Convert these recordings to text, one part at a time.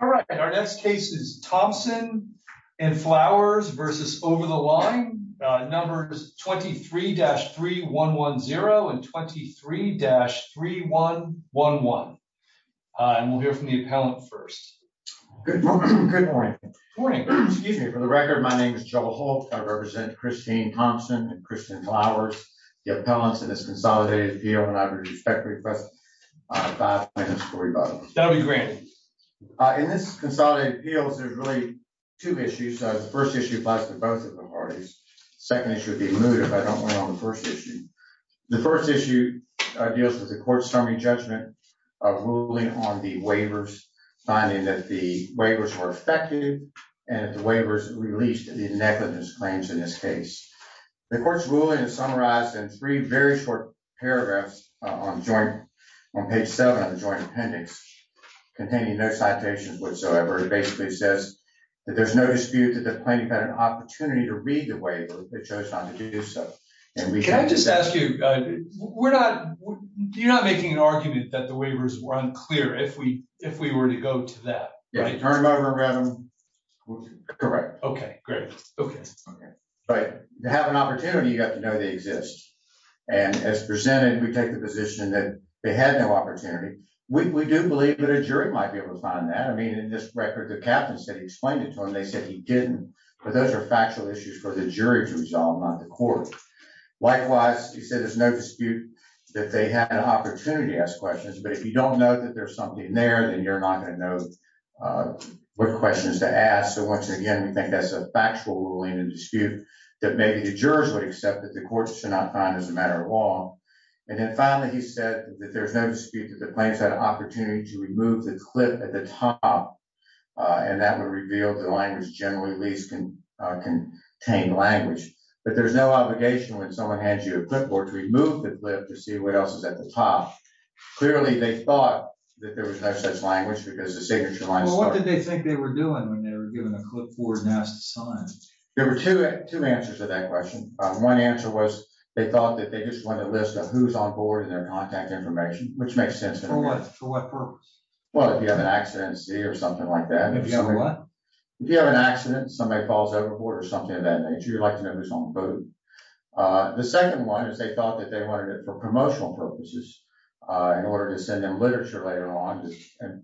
All right, our next case is Thompson and Flowers versus Over The Line, numbers 23-3110 and 23-3111. And we'll hear from the appellant first. Good morning. Good morning. Good morning. Excuse me, for the record, my name is Joe Holt. I represent Christine Thompson and Christian Flowers. The appellant's in this consolidated appeal and I would respectfully request that I explain the story about it. That'll be granted. In this consolidated appeals, there's really two issues. The first issue applies to both of the parties. Second issue would be moot if I don't want to go on the first issue. The first issue deals with the court's summary judgment of ruling on the waivers, finding that the waivers were effective and that the waivers released the negligence claims in this case. The court's ruling is summarized in three very short paragraphs on page seven of the joint appendix containing no citations whatsoever. It basically says that there's no dispute that the plaintiff had an opportunity to read the waiver, but chose not to do so. And we- Can I just ask you, we're not, you're not making an argument that the waivers were unclear if we were to go to that. Yeah, turn them over, grab them, correct. Okay, great. But to have an opportunity, you have to know they exist. And as presented, we take the position that they had no opportunity. We do believe that a jury might be able to find that. I mean, in this record, the captain said he explained it to them. They said he didn't, but those are factual issues for the jury to resolve, not the court. Likewise, he said there's no dispute that they had an opportunity to ask questions, but if you don't know that there's something there, then you're not gonna know what questions to ask. So once again, we think that's a factual ruling and dispute that maybe the jurors would accept that the courts should not find as a matter of law. And then finally, he said that there's no dispute that the plaintiffs had an opportunity to remove the clip at the top, and that would reveal the language generally least contained language. But there's no obligation when someone hands you a clipboard to remove the clip to see what else is at the top. Clearly, they thought that there was no such language because the signature lines were- Well, what did they think they were doing when they were given a clipboard and asked to sign? There were two answers to that question. One answer was they thought that they just wanted a list of who's on board and their contact information, which makes sense. For what purpose? Well, if you have an accident, see, or something like that. If you have what? If you have an accident, somebody falls overboard or something of that nature, you'd like to know who's on the boat. The second one is they thought that they wanted it for promotional purposes in order to send them literature later on,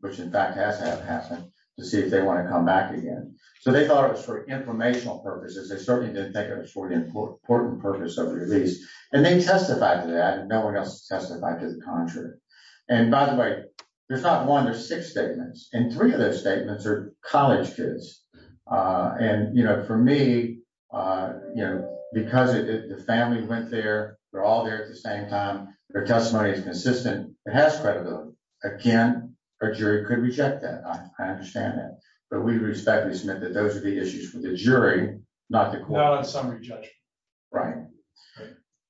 which in fact has happened, to see if they wanna come back again. So they thought it was for informational purposes. They certainly didn't think it was for the important purpose of the release. And they testified to that and no one else testified to the contrary. And by the way, there's not one, there's six statements. And three of those statements are college kids. And for me, because the family went there, they're all there at the same time, their testimony is consistent, it has credibility. Again, a jury could reject that, I understand that. But we respectfully submit that those are the issues for the jury, not the court. Without a summary judgment.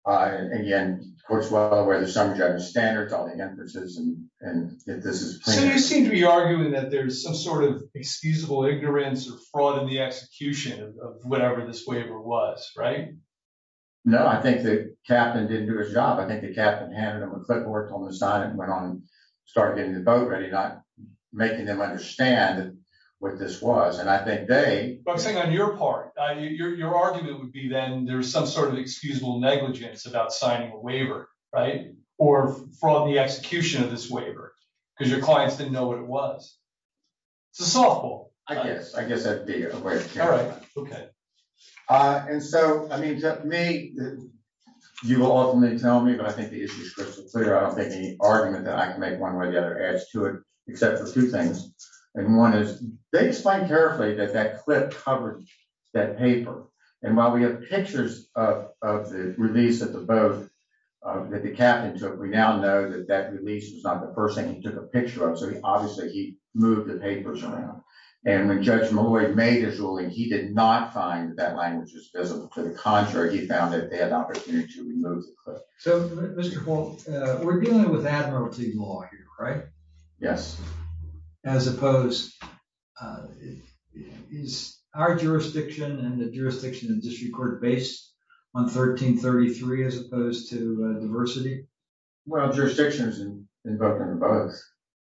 Again, of course, we're aware there's some judge standards, all the emphases, and if this is a plaintiff. So you seem to be arguing that there's some sort of excusable ignorance or fraud in the execution of whatever this waiver was, right? No, I think the captain didn't do his job. I think the captain handed him a clipboard, told him to sign it, went on and started getting the boat ready, not making them understand what this was. And I think they- I'm saying on your part, your argument would be then there's some sort of excusable negligence about signing a waiver, right? Or fraud in the execution of this waiver. Because your clients didn't know what it was. It's a softball. I guess, I guess that'd be it. All right, okay. And so, I mean, to me, you will often tell me, but I think the issue is crystal clear. I don't think any argument that I can make one way or the other adds to it, except for two things. And one is, they explained carefully that that clip covered that paper. And while we have pictures of the release of the boat that the captain took, we now know that that release was not the first thing he took a picture of. So he obviously, he moved the papers around. And when Judge Malloy made his ruling, he did not find that language was visible. To the contrary, he found that they had the opportunity to remove the clip. So, Mr. Holt, we're dealing with admiralty law here, right? Yes. As opposed, is our jurisdiction and the jurisdiction of the district court based on 1333 as opposed to diversity? Well, jurisdiction is invoked in both.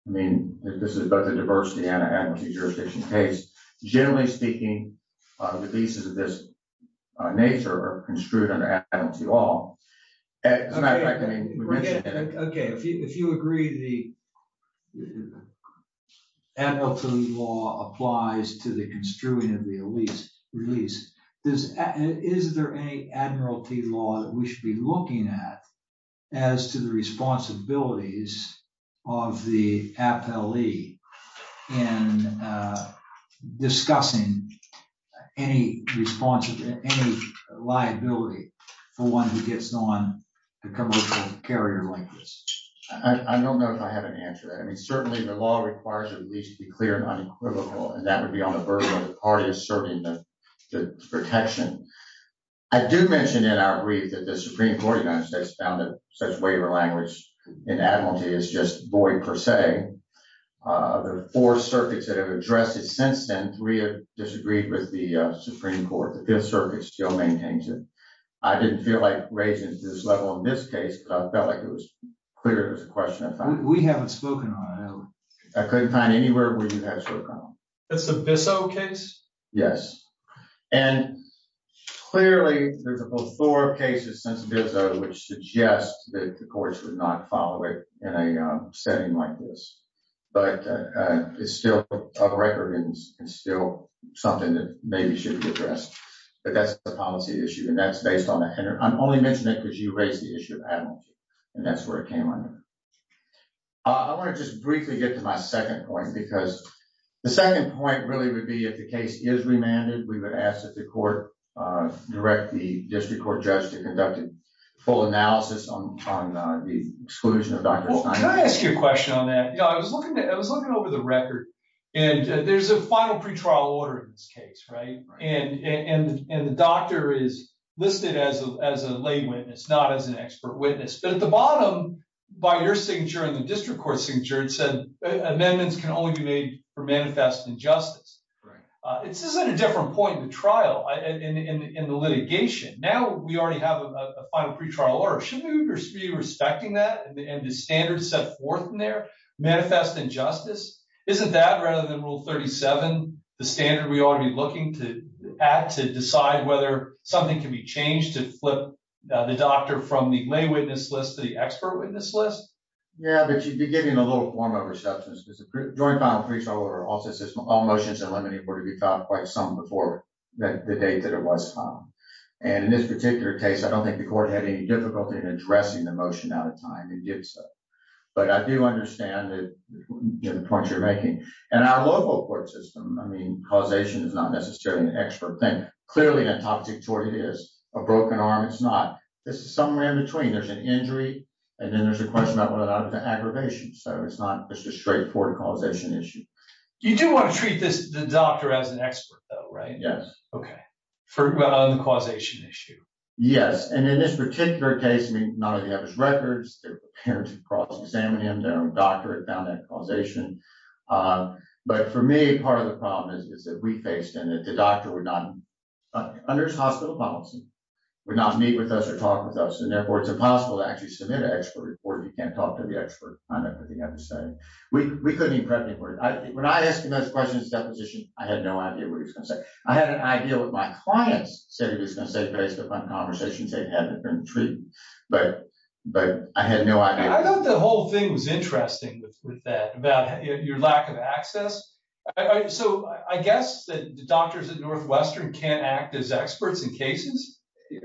I mean, this is both a diversity and an admiralty jurisdiction case. Generally speaking, the pieces of this nature are construed under admiralty law. As a matter of fact, I mean, we mentioned it. Okay, if you agree, the admiralty law applies to the construing of the release. Is there any admiralty law that we should be looking at as to the responsibilities of the appellee in discussing any liability for one who gets on a commercial carrier like this? I don't know if I have an answer to that. I mean, certainly the law requires a release to be clear and unequivocal, and that would be on the burden of the party asserting the protection. I do mention in our brief that the Supreme Court of the United States found that such waiver language in admiralty is just void per se. The four circuits that have addressed it since then, three have disagreed with the Supreme Court. The fifth circuit still maintains it. I didn't feel like raising it to this level in this case, but I felt like it was clear it was a question I found. We haven't spoken on it. I couldn't find anywhere where you have spoken on it. That's the Bissell case? Yes, and clearly there's a whole floor of cases since Bissell which suggest that the courts would not follow it in a setting like this, but it's still a record and still something that maybe should be addressed, but that's the policy issue, and that's based on that. I'm only mentioning it because you raised the issue of admiralty, and that's where it came under. I wanna just briefly get to my second point because the second point really would be if the case is remanded, we would ask that the court direct the district court judge to conduct a full analysis on the exclusion of Dr. Steinberg. Can I ask you a question on that? I was looking over the record, and there's a final pretrial order in this case, and the doctor is listed as a lay witness, not as an expert witness, but at the bottom, by your signature and the district court signature, it said amendments can only be made for manifest injustice. This isn't a different point in the trial, in the litigation. Now we already have a final pretrial order. Shouldn't we be respecting that and the standards set forth in there, manifest injustice? Isn't that, rather than rule 37, the standard we ought to be looking at to decide whether something can be changed to flip the doctor from the lay witness list to the expert witness list? Yeah, but you'd be giving a little form over substance because the joint final pretrial order also says all motions that eliminate were to be filed quite some before the date that it was filed, and in this particular case, I don't think the court had any difficulty in addressing the motion out of time, it did so, but I do understand the point you're making, and our local court system, I mean, causation is not necessarily an expert thing. Clearly, in a toxic tort, it is. A broken arm, it's not. This is somewhere in between. There's an injury, and then there's a question about whether or not it's an aggravation, so it's not, it's just straightforward causation issue. You do wanna treat the doctor as an expert, though, right? Yes. Okay. For the causation issue. Yes, and in this particular case, I mean, none of you have his records, their parents have cross-examined him, their own doctor had found that causation, but for me, part of the problem is that we faced, and that the doctor would not, under his hospital policy, would not meet with us or talk with us, and therefore, it's impossible to actually submit an expert report if you can't talk to the expert. I know everything I'm saying. We couldn't even prepare for it. When I asked him those questions at the deposition, I had no idea what he was gonna say. I had an idea what my clients said he was gonna say based upon conversations they'd had between the two, but I had no idea. I thought the whole thing was interesting with that, about your lack of access. So I guess that doctors at Northwestern can't act as experts in cases?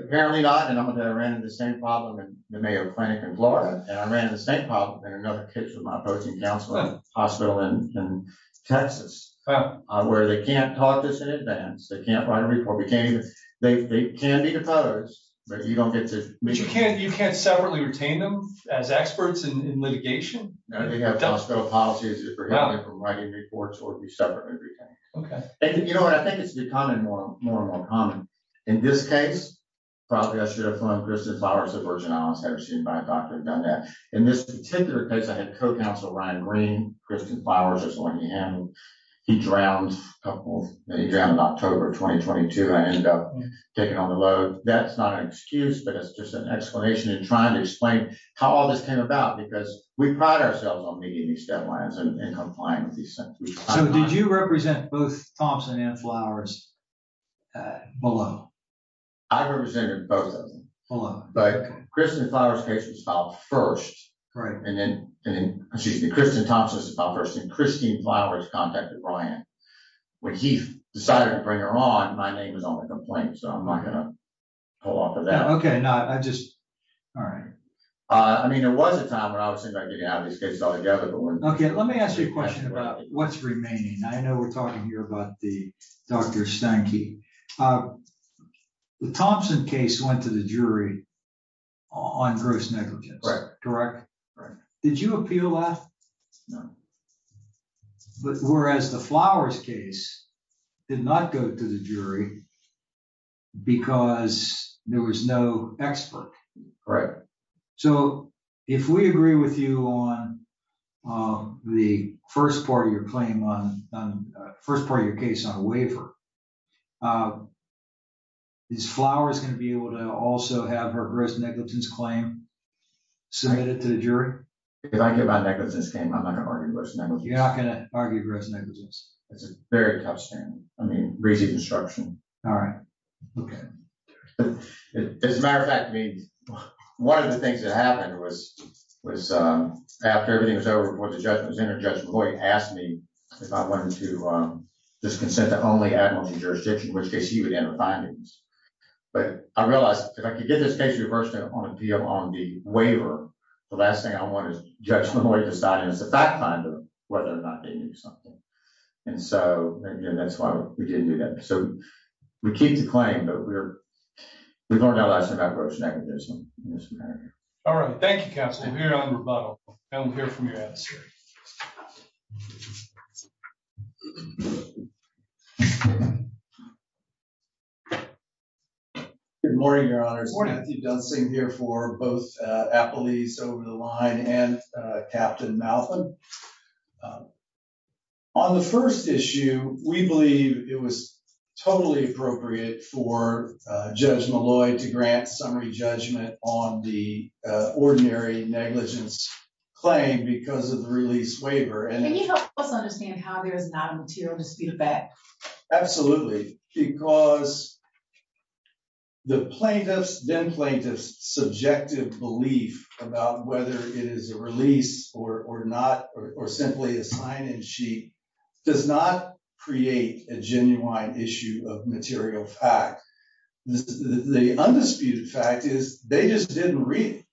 Apparently not, and I'm gonna tell you, I ran into the same problem in the Mayo Clinic in Florida, and I ran into the same problem in another case with my approaching counselor at a hospital in Texas, where they can't talk to us in advance, they can't write a report, we can't even, they can be deposed, but you don't get to meet them. You can't separately retain them as experts in litigation? No, they have hospital policies that prohibit them from writing reports or be separately retained. Okay. You know what, I think it's becoming more and more common. In this case, probably I should have flown Kristen Flowers to Virgin Islands, had her seen by a doctor and done that. In this particular case, I had co-counsel Ryan Green, Kristen Flowers was the one he handled. He drowned in October of 2022, and I ended up taking on the load. That's not an excuse, but it's just an explanation in trying to explain how all this came about, because we pride ourselves on meeting these deadlines and complying with these sentences. So did you represent both Thompson and Flowers below? I represented both of them. Below, okay. But Kristen Flowers' case was filed first. Right. And then, excuse me, Kristen Thompson's was filed first, and Kristen Flowers contacted Ryan. When he decided to bring her on, my name was on the complaint, so I'm not gonna pull off of that. Okay, no, I just, all right. I mean, there was a time when I was thinking about getting out of this case altogether, but we're- Okay, let me ask you a question about what's remaining. I know we're talking here about the Dr. Stanky. The Thompson case went to the jury on gross negligence, correct? Correct. Did you appeal that? No. Whereas the Flowers case did not go to the jury, because there was no expert. So if we agree with you on the first part of your claim on, first part of your case on a waiver, is Flowers gonna be able to also have her gross negligence claim submitted to the jury? If I give out negligence claim, I'm not gonna argue gross negligence. You're not gonna argue gross negligence. It's a very tough stand. I mean, raising construction. All right. As a matter of fact, I mean, one of the things that happened was, after everything was over, before the judge was in there, Judge McCoy asked me if I wanted to disconsent to only admiralty jurisdiction, in which case he would enter findings. But I realized if I could get this case reversed on appeal on the waiver, the last thing I want is Judge McCoy deciding as a fact finder whether or not they knew something. And so, and that's why we didn't do that. So, we keep the claim, but we learned our lesson about gross negligence. All right. Thank you, Counselor. I'm here on rebuttal. And I'm here for your answer. Good morning, Your Honor. Good morning. I'm Steve Dunsing here for both Applebee's over the line and Captain Malthan. On the first issue, we believe it was totally appropriate for Judge Malloy to grant summary judgment on the ordinary negligence claim because of the release waiver. And it- Can you help us understand how there's not a material dispute about- Absolutely. Because the plaintiff's, then plaintiff's subjective belief about whether it is a release or not, or simply a sign-in sheet, does not create a genuine issue of material fact. The undisputed fact is they just didn't read it.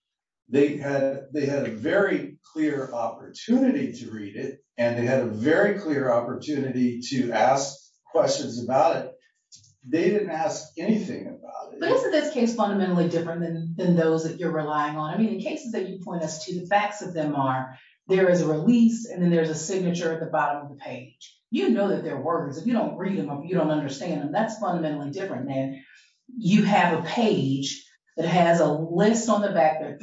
They had a very clear opportunity to read it, and they had a very clear opportunity to ask questions about it. They didn't ask anything about it. But isn't this case fundamentally different than those that you're relying on? I mean, the cases that you point us to, the facts of them are, there is a release, and then there's a signature at the bottom of the page. You know that they're words. If you don't read them, or you don't understand them, that's fundamentally different than, you have a page that has a list on the back. There are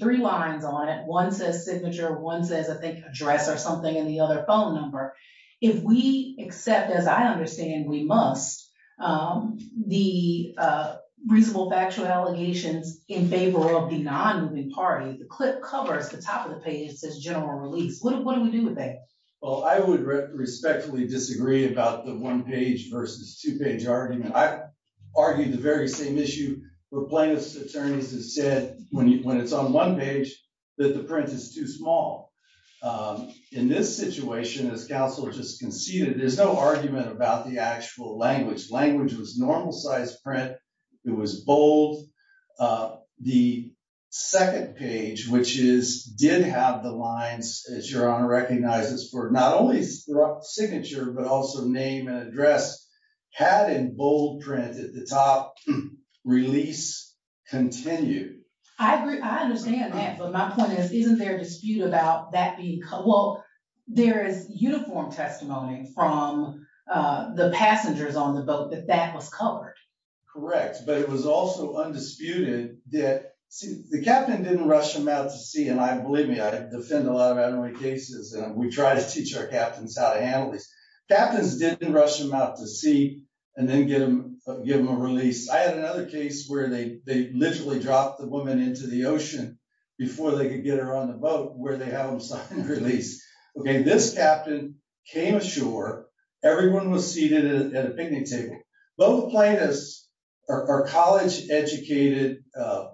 three lines on it. One says signature, one says, I think, address or something, and the other phone number. If we accept, as I understand, we must, the reasonable factual allegations in favor of the non-moving party, the clip covers the top of the page, it says general release. What do we do with that? Well, I would respectfully disagree about the one-page versus two-page argument. I argue the very same issue where plaintiff's attorneys have said, when it's on one page, that the print is too small. In this situation, as counsel just conceded, there's no argument about the actual language. Language was normal-sized print. It was bold. The second page, which did have the lines, as Your Honor recognizes, for not only signature, but also name and address, had in bold print at the top, release continued. I agree. I understand that, but my point is, isn't there a dispute about that being, well, there is uniform testimony from the passengers on the boat that that was covered. Correct, but it was also undisputed that the captain didn't rush them out to sea, and believe me, I defend a lot of admin cases, and we try to teach our captains how to handle this. Captains didn't rush them out to sea and then give them a release. I had another case where they literally dropped the woman into the ocean before they could get her on the boat, where they have them sign release. Okay, this captain came ashore. Everyone was seated at a picnic table. Both plaintiffs are college-educated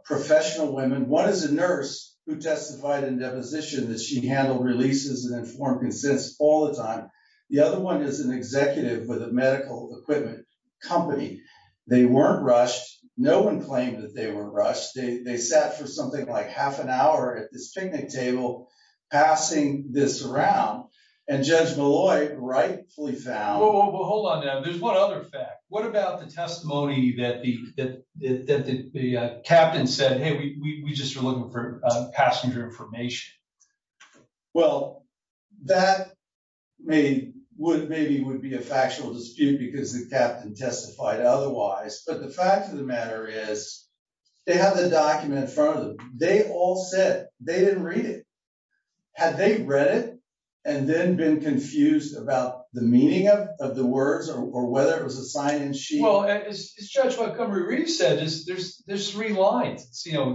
professional women. One is a nurse who testified in deposition that she handled releases and informed consents all the time. The other one is an executive with a medical equipment company. They weren't rushed. No one claimed that they were rushed. They sat for something like half an hour at this picnic table passing this around, and Judge Malloy rightfully found- Whoa, whoa, whoa, hold on now. There's one other fact. What about the testimony that the captain said, hey, we just are looking for passenger information? Well, that maybe would be a factual dispute because the captain testified otherwise, but the fact of the matter is they have the document in front of them. They all said they didn't read it. Had they read it and then been confused about the meaning of the words or whether it was a sign-in sheet? Well, Judge, what Cumbria-Reed said is there's three lines,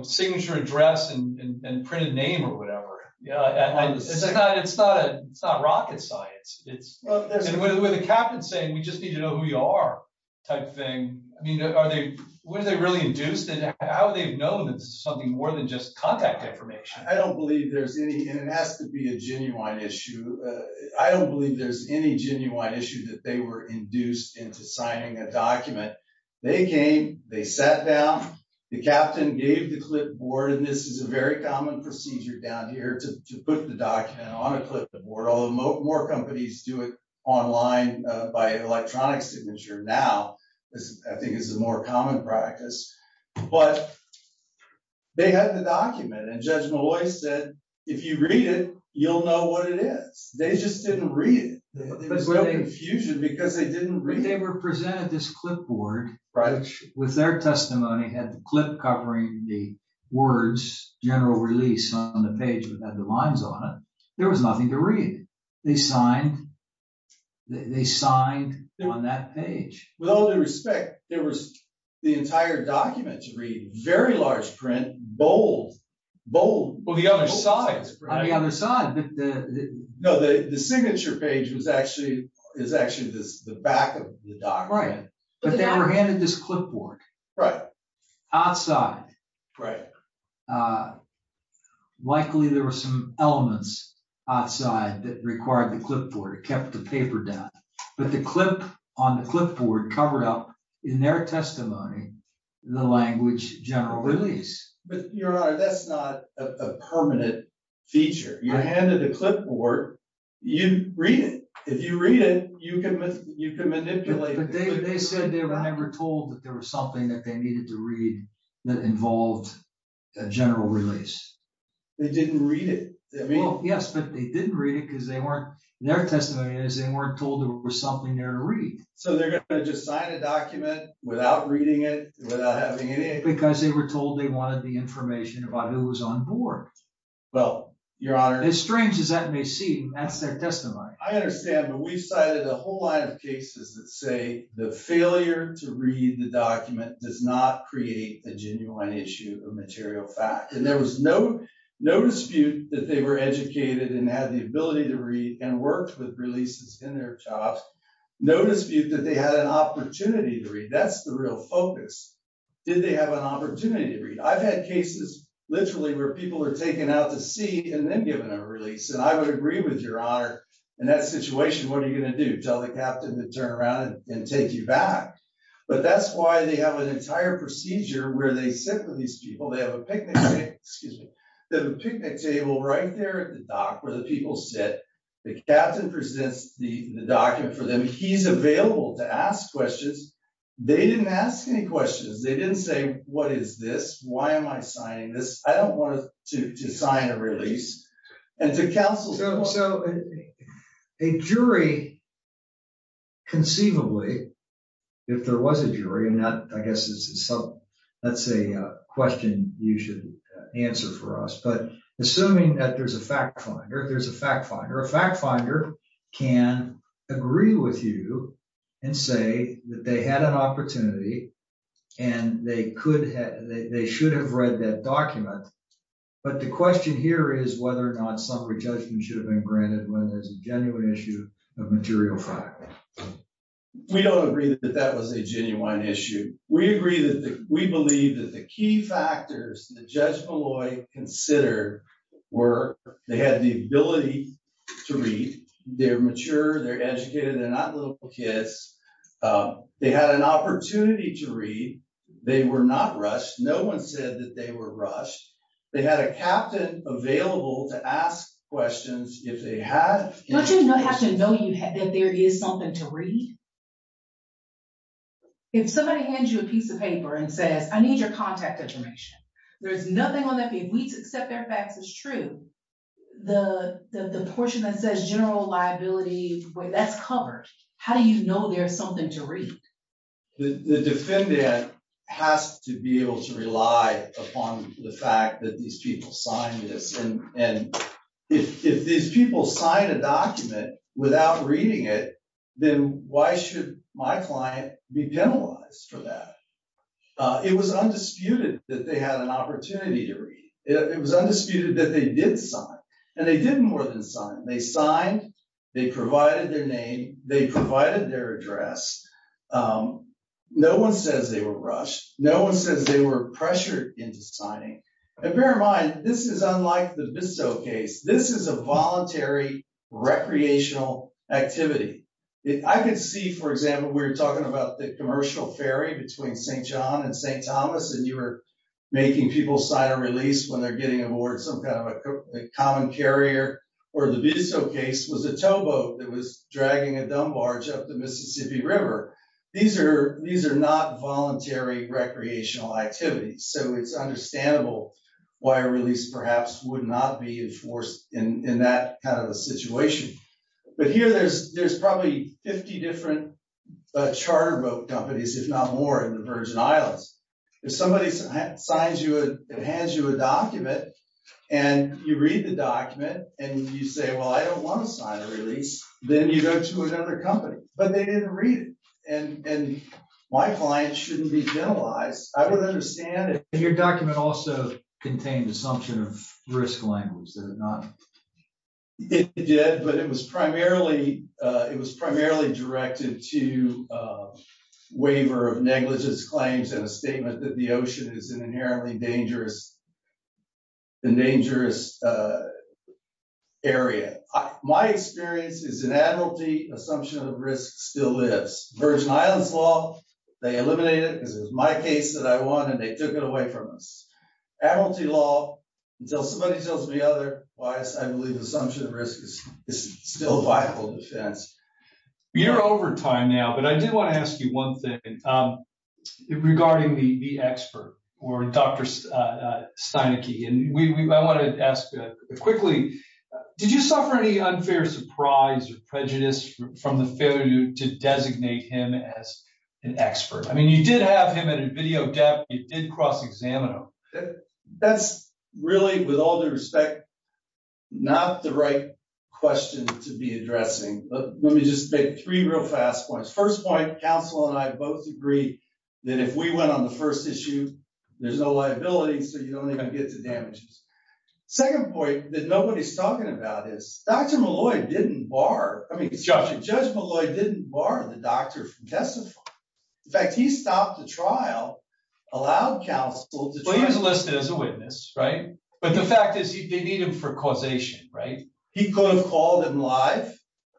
signature address and printed name or whatever. Yeah, it's not rocket science. It's where the captain's saying we just need to know who you are type thing. I mean, are they, were they really induced? And how they've known that this is something more than just contact information. I don't believe there's any, and it has to be a genuine issue. I don't believe there's any genuine issue that they were induced into signing a document. They came, they sat down, the captain gave the clipboard, and this is a very common procedure down here to put the document on a clipboard, although more companies do it online by electronic signature now. I think this is a more common practice, but they had the document and Judge Malloy said, if you read it, you'll know what it is. They just didn't read it. There was no confusion because they didn't read it. They were presented this clipboard with their testimony, had the clip covering the words, general release on the page that had the lines on it. There was nothing to read. They signed, they signed on that page. With all due respect, there was the entire document to read, very large print, bold, bold. On the other side. On the other side. No, the signature page is actually the back of the document. But they were handed this clipboard outside. Likely there were some elements outside that required the clipboard, kept the paper down. But the clip on the clipboard covered up, in their testimony, the language, general release. But Your Honor, that's not a permanent feature. You're handed a clipboard, you read it. If you read it, you can manipulate it. But they said they were told that there was something that they needed to read that involved a general release. They didn't read it. Yes, but they didn't read it because they weren't, their testimony is, they weren't told there was something there to read. So they're gonna just sign a document without reading it, without having any- Because they were told they wanted the information about who was on board. Well, Your Honor- As strange as that may seem, that's their testimony. I understand, but we've cited a whole line of cases that say the failure to read the document does not create the genuine issue of material fact. And there was no dispute that they were educated and had the ability to read and worked with releases in their jobs. No dispute that they had an opportunity to read. That's the real focus. Did they have an opportunity to read? I've had cases literally where people are taken out to sea and then given a release. And I would agree with Your Honor, in that situation, what are you gonna do? Tell the captain to turn around and take you back? But that's why they have an entire procedure where they sit with these people. They have a picnic table, excuse me. They have a picnic table right there at the dock where the people sit. The captain presents the document for them. He's available to ask questions. They didn't ask any questions. They didn't say, what is this? Why am I signing this? I don't want to sign a release. And to counsel- So a jury conceivably, if there was a jury, and I guess this is some, let's say a question you should answer for us, but assuming that there's a fact finder, there's a fact finder. A fact finder can agree with you and say that they had an opportunity and they should have read that document. But the question here is whether or not some re-judgment should have been granted when there's a genuine issue of material fact. We don't agree that that was a genuine issue. We agree that we believe that the key factors that Judge Molloy considered were they had the ability to read, they're mature, they're educated, they're not little kids. They had an opportunity to read. They were not rushed. No one said that they were rushed. They had a captain available to ask questions if they had- Don't you have to know that there is something to read? If somebody hands you a piece of paper and says, I need your contact information. There's nothing on that. If we accept their facts as true, the portion that says general liability, well, that's covered. How do you know there's something to read? The defendant has to be able to rely upon the fact that these people signed this. And if these people sign a document without reading it, then why should my client be penalized for that? It was undisputed that they had an opportunity to read. It was undisputed that they did sign. And they did more than sign. They signed, they provided their name, they provided their address. No one says they were rushed. No one says they were pressured into signing. And bear in mind, this is unlike the Bisto case. This is a voluntary recreational activity. I could see, for example, we were talking about the commercial ferry between St. John and St. Thomas, and you were making people sign a release when they're getting aboard some kind of a common carrier, where the Bisto case was a towboat that was dragging a dumb barge up the Mississippi River. These are not voluntary recreational activities. So it's understandable why a release perhaps would not be enforced in that kind of a situation. But here there's probably 50 different charter boat companies, if not more, in the Virgin Islands. If somebody signs you, it hands you a document, and you read the document, and you say, well, I don't want to sign a release, then you go to another company. But they didn't read it, and my client shouldn't be generalized. I would understand if- And your document also contained assumption of risk language, did it not? It did, but it was primarily directed to a waiver of negligence claims and a statement that the ocean is an inherently dangerous, a dangerous area. My experience is an admiralty assumption of risk still lives. Virgin Islands law, they eliminated it because it was my case that I won, and they took it away from us. Admiralty law, until somebody tells me otherwise, I believe assumption of risk is still a viable defense. You're over time now, but I do want to ask you one thing regarding the expert, or Dr. Steinicke. And I want to ask quickly, did you suffer any unfair surprise or prejudice from the failure to designate him as an expert? I mean, you did have him at a video depth. You did cross-examine him. That's really, with all due respect, not the right question to be addressing, but let me just make three real fast points. First point, counsel and I both agree that if we went on the first issue, there's no liability, so you don't even get the damages. Second point that nobody's talking about is, Dr. Malloy didn't bar, I mean, Judge Malloy didn't bar the doctor from testifying. In fact, he stopped the trial, allowed counsel to try- Well, he was listed as a witness, right? But the fact is, they need him for causation, right? He could have called him live.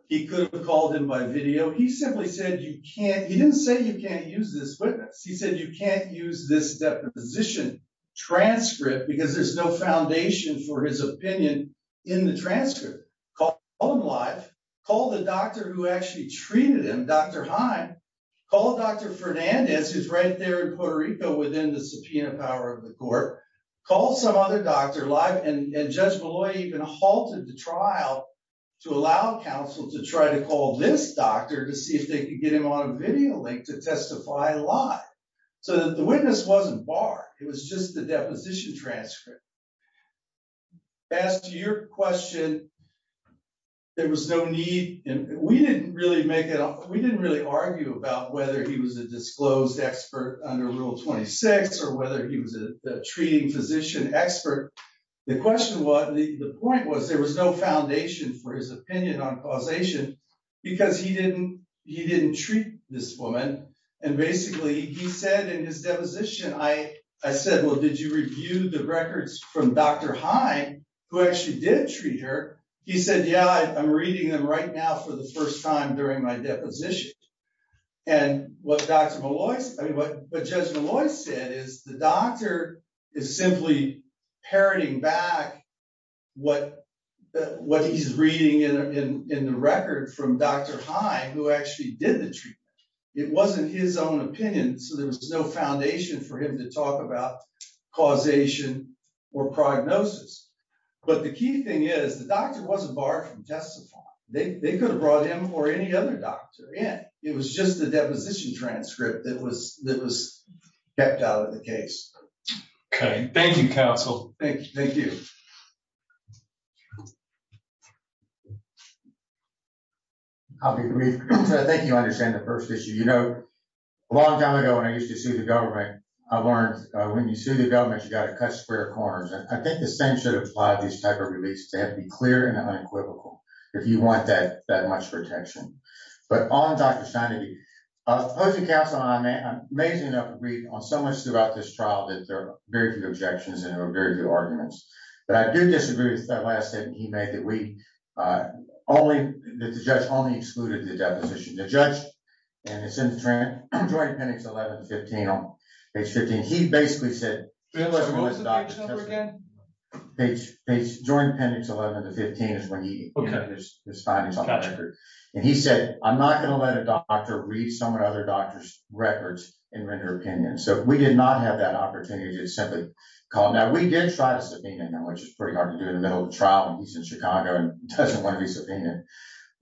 He could have called him by video. He simply said, you can't, he didn't say you can't use this witness. He said, you can't use this deposition transcript because there's no foundation for his opinion in the transcript. Call him live. Call the doctor who actually treated him, Dr. Heim. Call Dr. Fernandez, who's right there in Puerto Rico within the subpoena power of the court. Call some other doctor live, and Judge Malloy even halted the trial to allow counsel to try to call this doctor to see if they could get him on a video link to testify live, so that the witness wasn't barred. It was just the deposition transcript. As to your question, there was no need, and we didn't really make it, we didn't really argue about whether he was a disclosed expert under Rule 26 or whether he was a treating physician expert. The question was, the point was, there was no foundation for his opinion on causation because he didn't treat this woman. And basically, he said in his deposition, I said, well, did you review the records from Dr. Heim, who actually did treat her? He said, yeah, I'm reading them right now for the first time during my deposition. And what Judge Malloy said is, the doctor is simply parroting back what he's reading in the record from Dr. Heim, who actually did the treatment. It wasn't his own opinion, so there was no foundation for him to talk about causation or prognosis. But the key thing is, the doctor wasn't barred from testifying. They could have brought him or any other doctor in. It was just the deposition transcript that was kept out of the case. Okay, thank you, counsel. Thank you. I'll be brief. So I think you understand the first issue. You know, a long time ago, when I used to sue the government, I learned when you sue the government, you gotta cut square corners. I think the same should apply to this type of release. They have to be clear and unequivocal if you want that much protection. But on Dr. Stein, I was supposed to counsel on that. I'm amazing enough to read on so much throughout this trial that there are very few objections and there are very few arguments. But I do disagree with that last statement he made that the judge only excluded the deposition. The judge, and it's in the joint appendix 11 to 15 on page 15, he basically said, so it wasn't with the doctor's testimony. Page, joint appendix 11 to 15 is when he put this findings on the record. And he said, I'm not gonna let a doctor read someone or other doctor's records and render opinion. So we did not have that opportunity to simply call. Now we did try to subpoena him, which is pretty hard to do in the middle of a trial when he's in Chicago and doesn't want to be subpoenaed.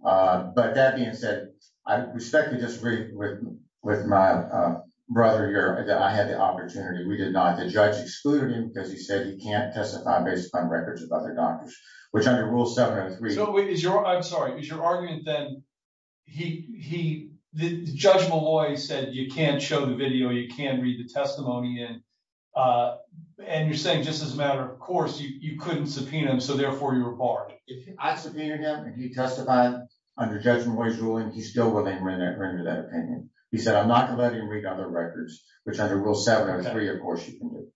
But that being said, I respectfully disagree with my brother here that I had the opportunity. We did not. The judge excluded him because he said he can't testify based upon records of other doctors, which under rule 703- I'm sorry, is your argument then he, the Judge Malloy said you can't show the video, you can't read the testimony in. And you're saying just as a matter of course, you couldn't subpoena him, so therefore you were barred. I subpoenaed him and he testified under Judge Malloy's ruling. He's still willing to render that opinion. He said, I'm not gonna let him read other records, which under rule 703, of course you can do.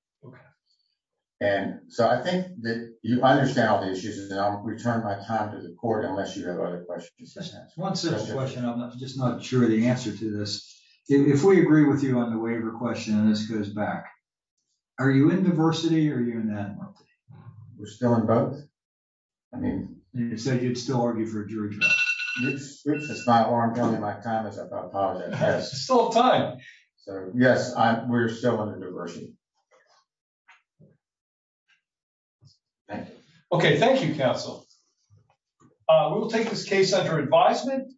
And so I think that you understand all the issues and I'll return my time to the court unless you have other questions to ask. One simple question, I'm just not sure the answer to this. If we agree with you on the waiver question and this goes back, are you in diversity or are you in that one? We're still in both. I mean- You said you'd still argue for a jury trial. Which is not where I'm going in my comments about how that has- There's still time. So yes, we're still under diversity. Thank you. Okay, thank you, counsel. We will take this case under advisement.